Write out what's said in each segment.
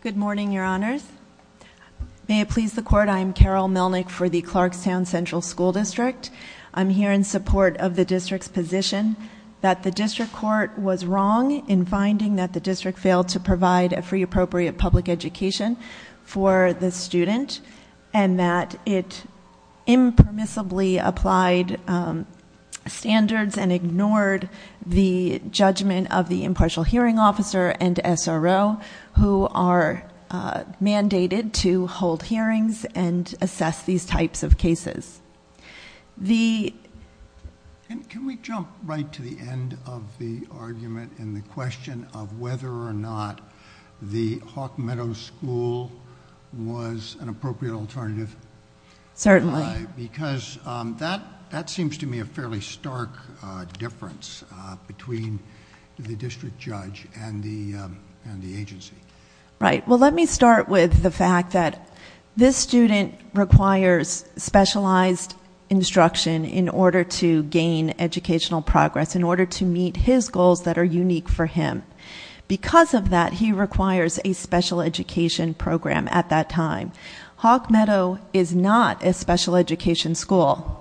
Good morning, your honors. May it please the court, I am Carol Melnick for the Clarkstown Central School District. I'm here in support of the district's position that the district court was wrong in finding that the district failed to provide a free appropriate public education for the student and that it impermissibly applied standards and ignored the judgment of the impartial hearing officer and SRO who are mandated to hold hearings and assess these types of cases. Can we jump right to the end of the argument in the question of whether or not the Hawk Meadows School was an appropriate alternative? Certainly. Because that that seems to me a fairly stark difference between the district judge and the agency. Right, well let me start with the fact that this student requires specialized instruction in order to gain educational progress, in order to meet his goals that are unique for him. Because of that, he requires a special education program at that time. Hawk Meadow is not a special education school.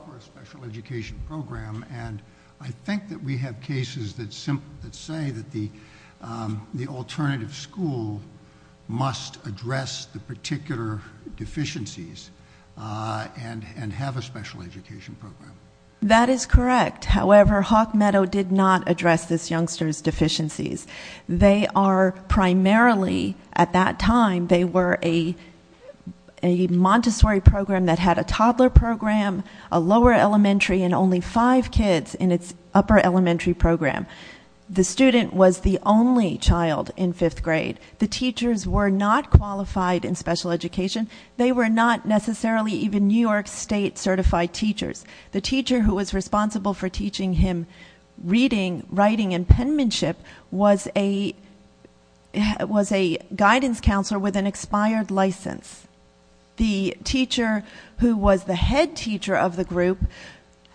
That is correct. However, Hawk Meadow did not address this youngster's deficiencies. They are primarily, at that time, they were a lower elementary and only five kids in its upper elementary program. The student was the only child in fifth grade. The teachers were not qualified in special education. They were not necessarily even New York State certified teachers. The teacher who was responsible for teaching him reading, writing, and penmanship was a was a guidance counselor with an expired license. The teacher who was the head teacher of the group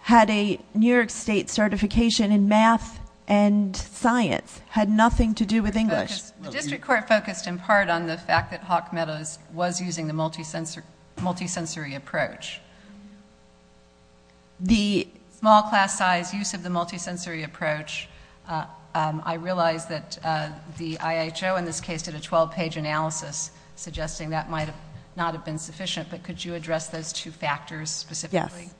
had a New York State certification in math and science, had nothing to do with English. The district court focused in part on the fact that Hawk Meadows was using the multi-sensory approach. The small class size use of the multi-sensory approach, I realize that the IHO in this case did a twelve page analysis suggesting that might not have been sufficient, but could you address those two factors specifically? Yes.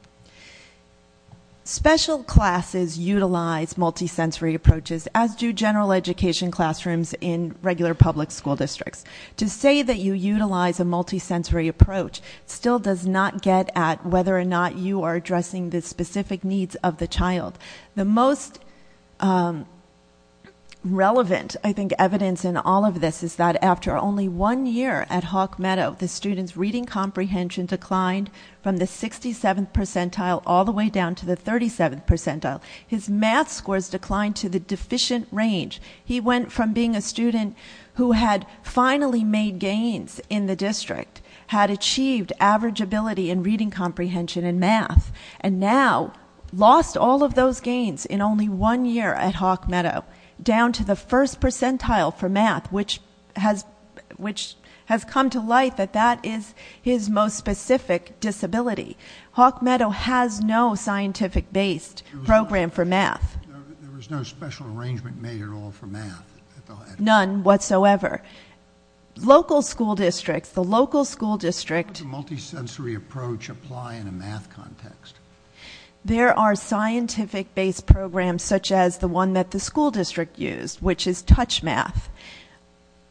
Special classes utilize multi-sensory approaches, as do general education classrooms in regular public school districts. To say that you utilize a multi-sensory approach still does not get at whether or not you are addressing the specific needs of the child. The most relevant, I think, evidence in all of this is that after only one year at Hawk Meadows, his reading comprehension declined from the 67th percentile all the way down to the 37th percentile. His math scores declined to the deficient range. He went from being a student who had finally made gains in the district, had achieved average ability in reading comprehension in math, and now lost all of those gains in only one year at Hawk Meadows, down to the first percentile for the most specific disability. Hawk Meadows has no scientific-based program for math. There was no special arrangement made at all for math? None whatsoever. Local school districts, the local school district... How does a multi-sensory approach apply in a math context? There are scientific-based programs such as the one that the school district used, which is Touch Math.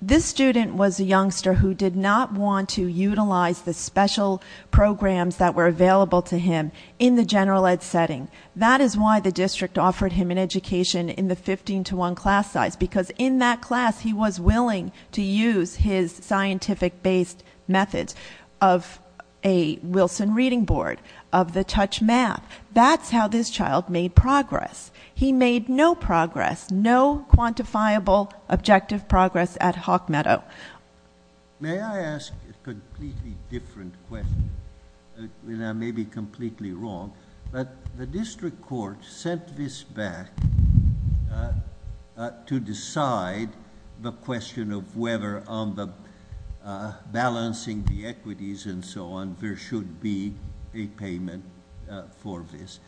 This student was a youngster who did not want to utilize the special programs that were available to him in the general ed setting. That is why the district offered him an education in the 15 to 1 class size, because in that class he was willing to use his scientific-based methods of a Wilson reading board, of the Touch Math. That's how this child made progress. He made no progress, no quantifiable objective progress at Hawk Meadows. May I ask a completely different question? I may be completely wrong, but the district court sent this back to decide the question of whether on the balancing the equities and so on, there should be a payment for this.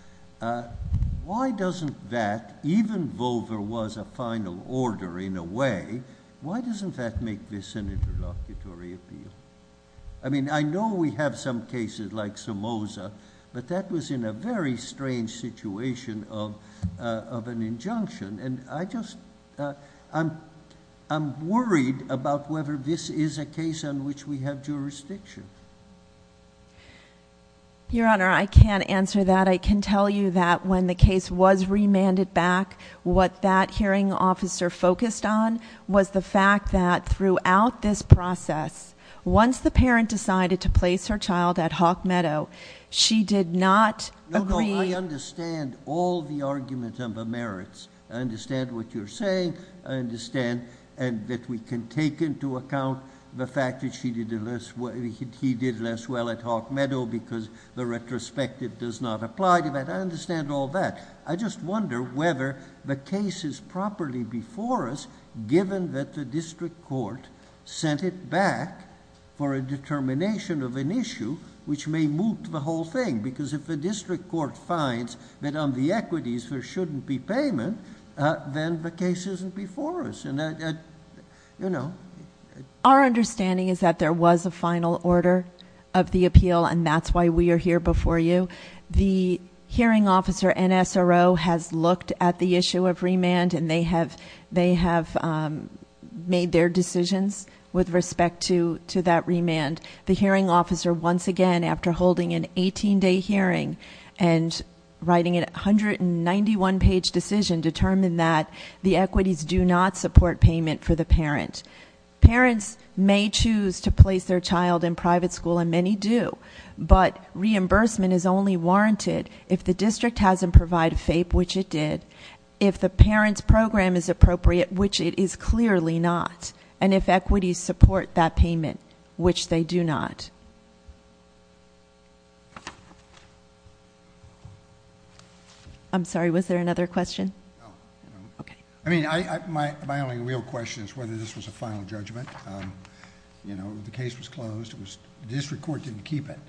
Why doesn't that, even though there was a final order in a way, why doesn't that make this an interlocutory appeal? I mean, I know we have some cases like Somoza, but that was in a very strange situation of an injunction, and I just I'm worried about whether this is a case on which we have jurisdiction. Your Honor, I can't answer that. I can tell you that when the case was remanded back, what that hearing officer focused on was the fact that throughout this process, once the parent decided to place her child at Hawk Meadows, she did not agree... No, no, I understand all the arguments on the merits. I understand what you're saying. I understand that we can take into account the fact that she did less well at Hawk Meadows because the retrospective does not apply to that. I understand all that. I just wonder whether the case is properly before us, given that the district court sent it back for a determination of an issue which may moot the whole thing, because if the district court finds that on the equities, there shouldn't be payment, then the case isn't before us. Our understanding is that there was a final order of the appeal, and that's why we are here before you. The hearing officer, NSRO, has looked at the issue of remand, and they have made their decisions with respect to that remand. The hearing officer, once again, after holding an 18-day hearing and writing a 191-page decision, determined that the equities do not support payment for the parent. Parents may choose to place their child in private school, and many do, but reimbursement is only warranted if the district hasn't provided FAPE, which it did, if the parent's program is appropriate, which it is clearly not, and if equities support that payment, which they do not. I'm sorry, was there another question? No. Okay. My only real question is whether this was a final judgment. The case was closed. The district court didn't keep it.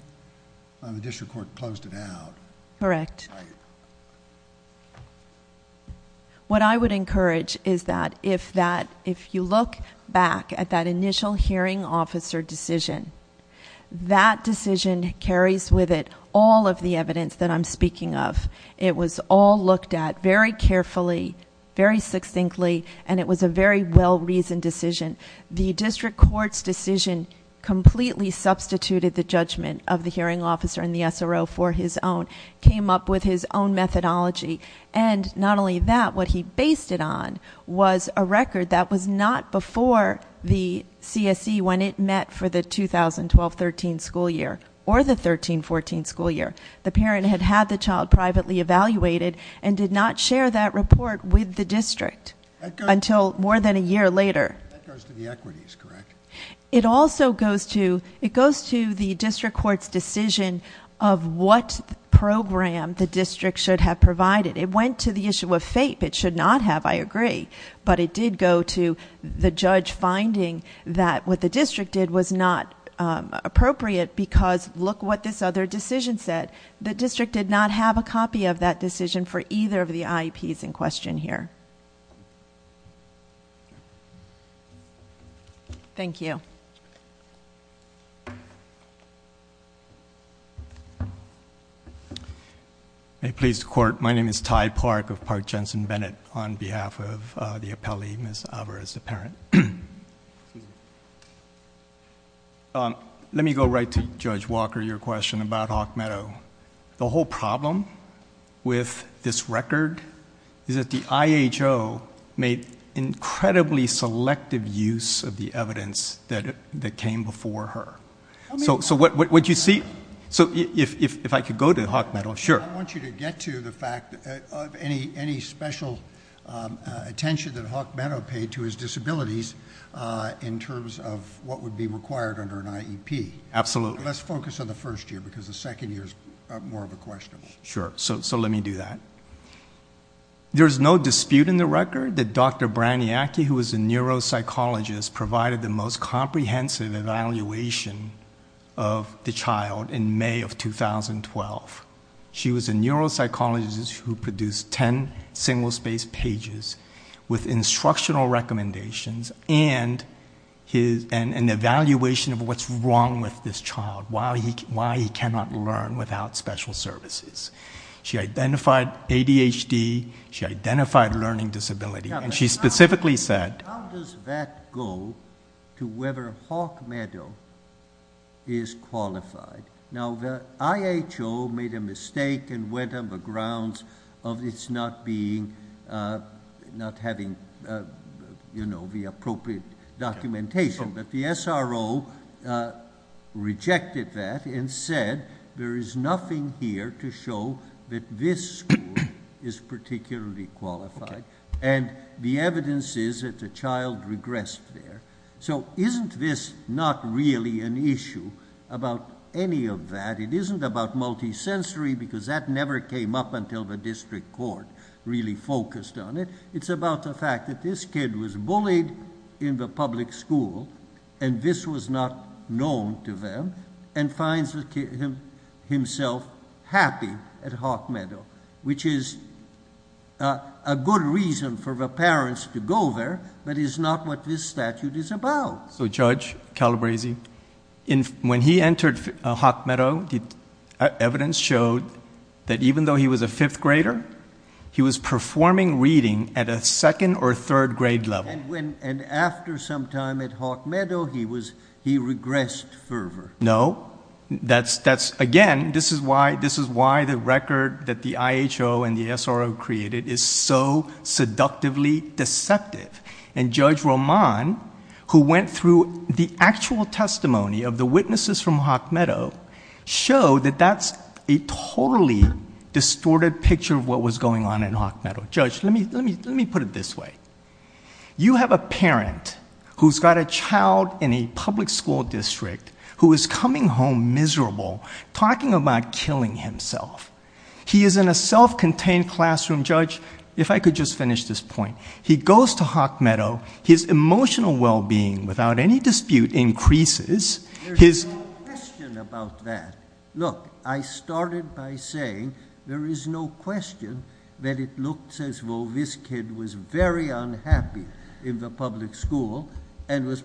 The district court closed it out. Correct. What I would encourage is that if you look back at that initial hearing officer decision, that decision carries with it all of the evidence that I'm speaking of. It was all looked at very carefully, very succinctly, and it was a very well-reasoned decision. The district court's decision completely substituted the judgment of the hearing officer and the SRO for his own, came up with his own methodology. Not only that, what he based it on was a record that was not before the CSE when it met for the 2012-13 school year or the 13-14 school year. The parent had had the child privately evaluated and did not share that report with the district until more than a year later. That goes to the equities, correct? It also goes to the district court's decision of what program the district should have provided. It went to the issue of FAPE. It should not have, I did go to the judge finding that what the district did was not appropriate because look what this other decision said. The district did not have a copy of that decision for either of the IEPs in question here. Thank you. May it please the court, my name is Ty Park of Park Jensen Bennett on behalf of the appellee, Ms. Alvarez, the parent. Let me go right to Judge Walker, your question about Hawk Meadow. The whole problem with this record is that IHO made incredibly selective use of the evidence that came before her. I want you to get to the fact of any special attention that Hawk Meadow paid to his disabilities in terms of what would be required under an IEP. Let's focus on the first year because the second year is more of a question. Sure, so let me do that. There's no dispute in the record that Dr. Braniaki, who was a neuropsychologist, provided the most comprehensive evaluation of the child in May of 2012. She was a neuropsychologist who produced ten single-space pages with instructional recommendations and an evaluation of what's wrong with this child, why he cannot learn without special services. She identified ADHD, she identified a learning disability, and she specifically said- How does that go to whether Hawk Meadow is qualified? Now the IHO made a mistake and went on the grounds of its not having the appropriate documentation. The SRO rejected that and said there is nothing here to show that this school is particularly qualified. The evidence is that the child regressed there. Isn't this not really an issue about any of that? It isn't about multisensory because that never came up until the district court really focused on it. It's about the fact that this kid was bullied in the public school and this was not known to them and finds himself happy at Hawk Meadow, which is a good reason for the parents to go there, but is not what this statute is about. So Judge Calabresi, when he entered Hawk Meadow, the evidence showed that even though he was a fifth grader, he was performing reading at a second or third grade level. And after some time at Hawk Meadow, he regressed fervor? No. Again, this is why the record that the IHO and the SRO created is so seductively deceptive. And Judge Roman, who went through the actual testimony of the witnesses from Hawk Meadow, showed that that's a totally distorted picture of what was going on in Hawk Meadow. Judge, let me put it this way. You have a parent who's got a child in a public school district who is coming home miserable, talking about killing himself. He is in a self-contained classroom. Judge, if I could just finish this point. He goes to Hawk Meadow. His emotional well-being, without any dispute, increases. There's no question about that. Look, I started by saying there is no question that it looks as though this kid was very unhappy in the public school. And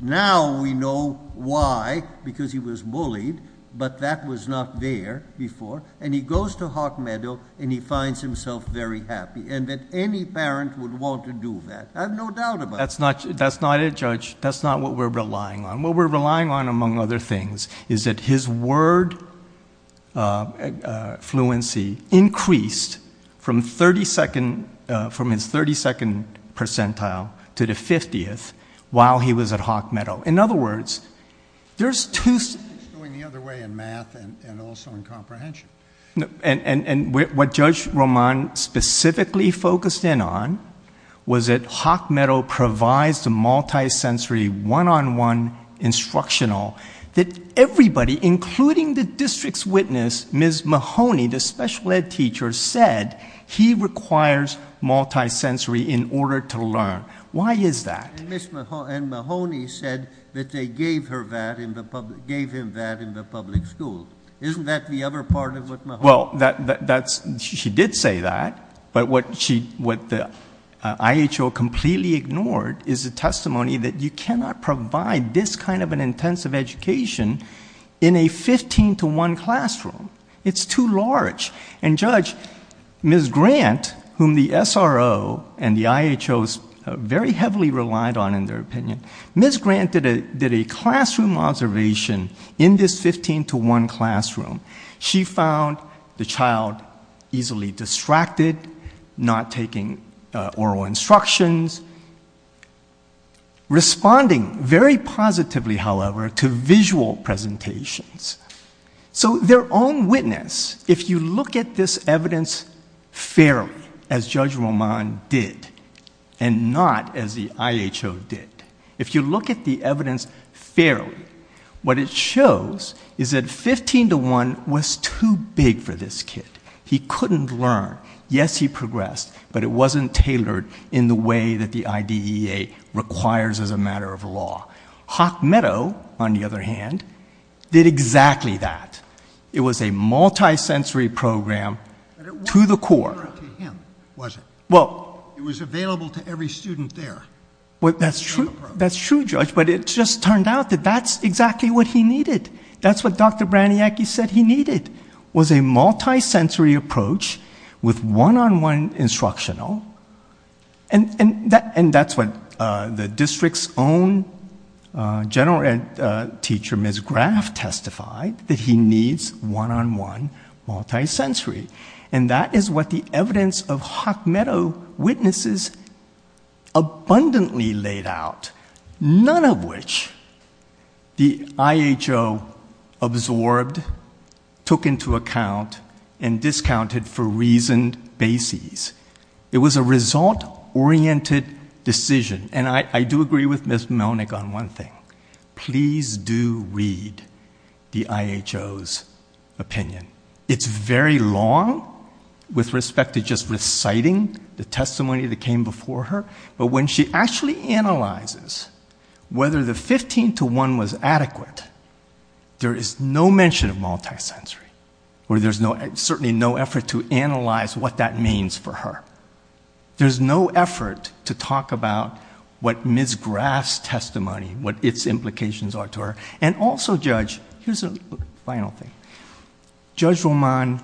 now we know why, because he was bullied, but that was not there before. And he goes to Hawk Meadow, and he finds himself very happy, and that any parent would want to do that. I have no doubt about that. That's not it, Judge. That's not what we're relying on. What we're relying on, among other things, is that his word fluency increased from his 32nd percentile to the 50th while he was at Hawk Meadow. In other words, there's two... It's going the other way in math and also in comprehension. And what Judge Roman specifically focused in on was that Hawk Meadow provides the multi-sensory one-on-one instructional that everybody, including the district's witness, Ms. Mahoney, the special ed teacher, said he requires multi-sensory in order to learn. Why is that? And Ms. Mahoney said that they gave him that in the public school. Isn't that the other part of what Mahoney... Well, she did say that, but what the IHO completely ignored is the testimony that you cannot provide this kind of an intensive education in a 15-to-1 classroom. It's too large. And, Judge, Ms. Grant, whom the SRO and the IHO very heavily relied on in their opinion, Ms. Grant did a classroom observation in this 15-to-1 classroom. She found the child easily distracted, not taking oral instructions, responding very positively, however, to visual presentations. So their own witness, if you look at this evidence fairly, as Judge Roman did, and not as the IHO did, if you look at the evidence fairly, what it shows is that 15-to-1 was too big for this kid. He couldn't learn. Yes, he progressed, but it wasn't tailored in the way that the IDEA requires as a matter of law. Hock Meadow, on the other hand, did exactly that. It was a multi-sensory program to the core. But it wasn't tailored to him, was it? Well... It was available to every student there. Well, that's true, Judge, but it just turned out that that's exactly what he needed. That's what Dr. Braniacki said he needed, was a multi-sensory approach with one-on-one instructional. And that's what the district's own general teacher, Ms. Graff, testified, that he needs one-on-one multi-sensory. And that is what the evidence of Hock Meadow witnesses abundantly laid out, none of which the IHO absorbed, took into account, and discounted for reasoned bases. It was a result-oriented decision. And I do agree with Ms. Melnick on one thing. Please do read the IHO's opinion. It's very long with respect to just reciting the testimony that came before her. But when she actually analyzes whether the 15-to-1 was adequate, there is no mention of multi-sensory, or there's certainly no effort to analyze what that means for her. There's no effort to talk about what Ms. Graff's testimony, what its implications are to her. And also, Judge, here's a final thing. Judge Roman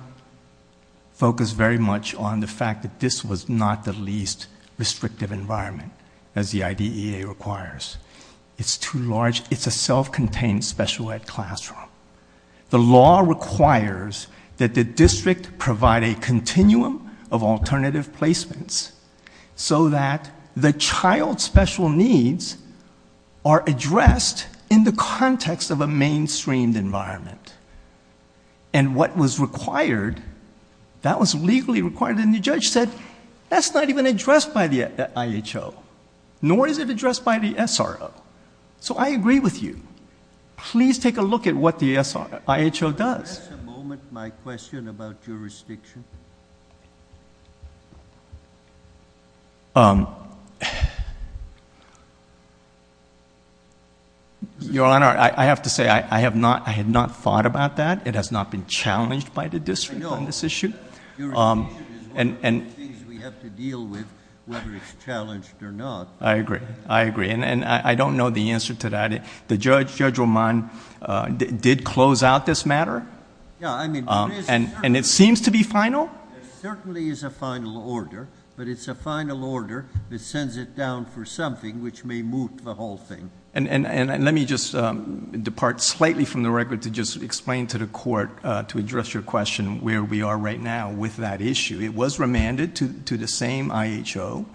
focused very much on the fact that this was not the least restrictive environment, as the IDEA requires. It's too large. It's a self-contained special ed classroom. The law requires that the district provide a continuum of alternative placements so that the child's special needs are addressed in the context of a mainstreamed environment. And what was required, that was legally required. And the judge said, that's not even addressed by the IHO, nor is it addressed by the SRO. So I agree with you. Please take a look at what the IHO does. Just a moment, my question about jurisdiction. Your Honor, I have to say, I had not thought about that. It has not been challenged by the district on this issue. Jurisdiction is one of the things we have to deal with, whether it's challenged or not. I agree, I agree. And I don't know the answer to that. The judge, Judge Roman, did close out this matter? Yeah, I mean, there is a- And it seems to be final? There certainly is a final order. But it's a final order that sends it down for something which may moot the whole thing. And let me just depart slightly from the record to just explain to the court, to address your question, where we are right now with that issue. It was remanded to the same IHO.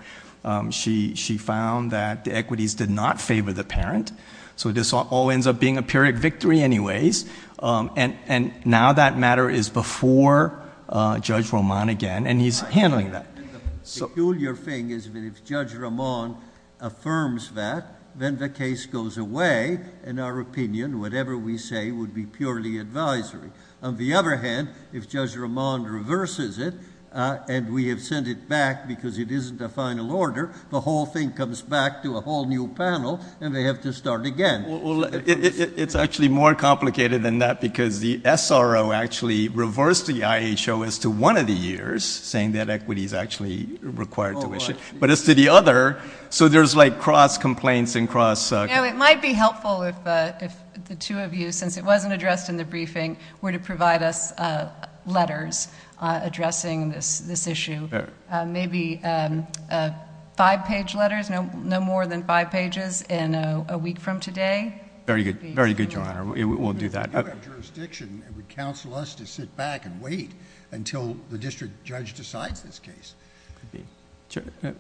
She found that the equities did not favor the parent. So this all ends up being a period victory anyways. And now that matter is before Judge Roman again, and he's handling that. So the peculiar thing is that if Judge Roman affirms that, then the case goes away. In our opinion, whatever we say would be purely advisory. On the other hand, if Judge Roman reverses it, and we have sent it back because it isn't a final order, the whole thing comes back to a whole new panel, and they have to start again. Well, it's actually more complicated than that because the SRO actually reversed the IHO as to one of the years, saying that equity is actually required to issue, but as to the other, so there's like cross complaints and cross- It might be helpful if the two of you, since it wasn't addressed in the briefing, were to provide us letters addressing this issue. Maybe five page letters, no more than five pages, in a week from today. Very good, very good, Your Honor. We'll do that. We do have jurisdiction, and would counsel us to sit back and wait until the district judge decides this case.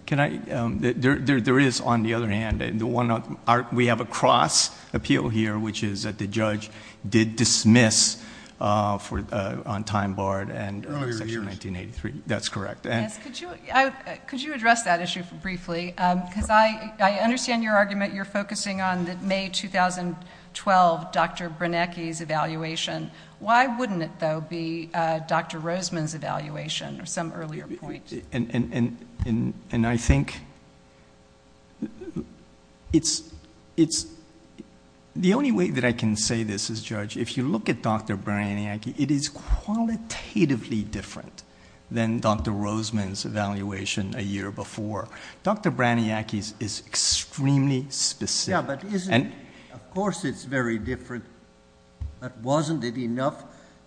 Can I, there is on the other hand, the one, we have a cross appeal here, which is that the judge did dismiss on time barred and- Earlier years. Section 1983, that's correct. Yes, could you address that issue briefly, because I understand your argument. You're focusing on the May 2012 Dr. Braniaki's evaluation. Why wouldn't it, though, be Dr. Roseman's evaluation, or some earlier point? And I think it's, the only way that I can say this is, Judge, if you look at Dr. Braniaki, it is qualitatively different than Dr. Roseman's evaluation a year before. Dr. Braniaki's is extremely specific. Yeah, but isn't, of course it's very different, but wasn't it enough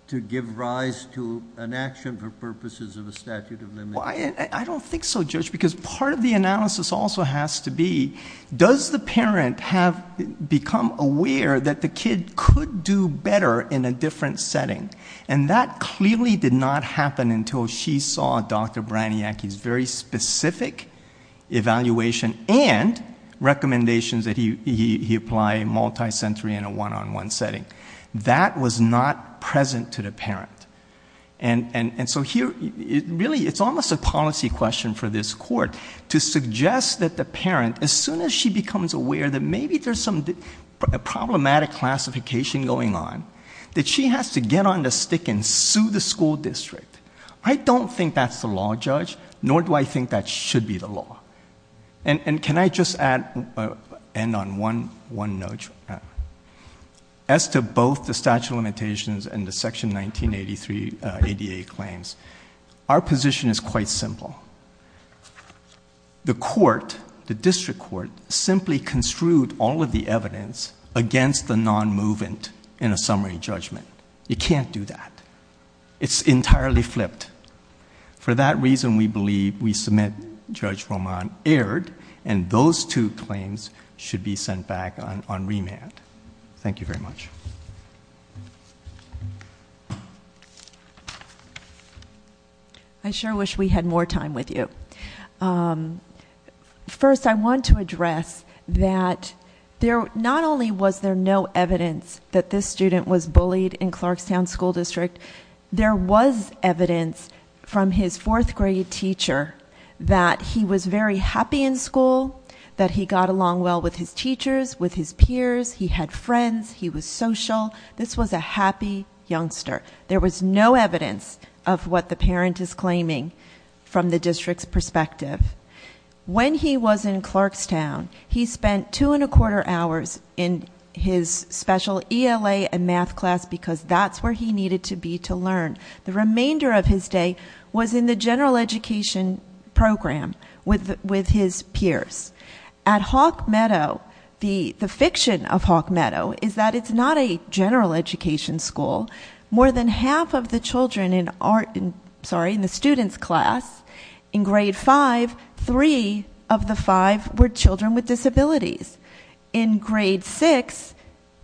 to give rise to an action for purposes of a statute of limitations? I don't think so, Judge, because part of the analysis also has to be, does the parent have become aware that the kid could do better in a different setting? And that clearly did not happen until she saw Dr. Braniaki's very specific evaluation and recommendations that he applied multi-sensory in a one-on-one setting. That was not present to the parent. And so here, really it's almost a policy question for this court to suggest that the parent, as soon as she becomes aware that maybe there's some problematic classification going on, that she has to get on the stick and sue the school district. I don't think that's the law, Judge, nor do I think that should be the law. And can I just add, end on one note? As to both the statute of limitations and the section 1983 ADA claims, our position is quite simple. The court, the district court, simply construed all of the evidence against the non-movement in a summary judgment. You can't do that. It's entirely flipped. For that reason, we believe we submit, Judge Roman, erred, and those two claims should be sent back on remand. Thank you very much. I sure wish we had more time with you. First, I want to address that not only was there no evidence that this student was bullied in Clarkstown School District, there was evidence from his fourth grade teacher that he was very happy in school, that he got along well with his teachers, with his peers, he had friends, he was social. This was a happy youngster. There was no evidence of what the parent is claiming from the district's perspective. When he was in Clarkstown, he spent two and a quarter hours in his special ELA and math class because that's where he needed to be to learn. The remainder of his day was in the general education program with his peers. At Hawk Meadow, the fiction of Hawk Meadow is that it's not a general education school, more than half of the children in the student's class, in grade five, three of the five were children with disabilities. In grade six,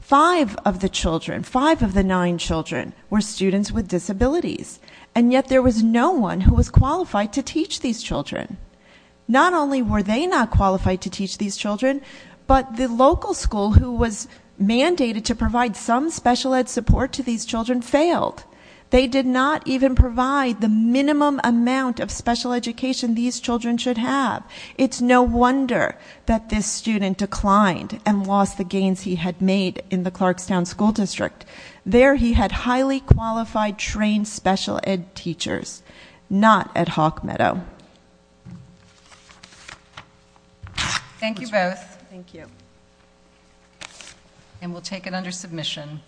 five of the children, five of the nine children were students with disabilities. And yet there was no one who was qualified to teach these children. Not only were they not qualified to teach these children, but the local school who was teaching these children failed, they did not even provide the minimum amount of special education these children should have. It's no wonder that this student declined and lost the gains he had made in the Clarkstown School District. There he had highly qualified, trained special ed teachers, not at Hawk Meadow. Thank you both. Thank you. And we'll take it under submission.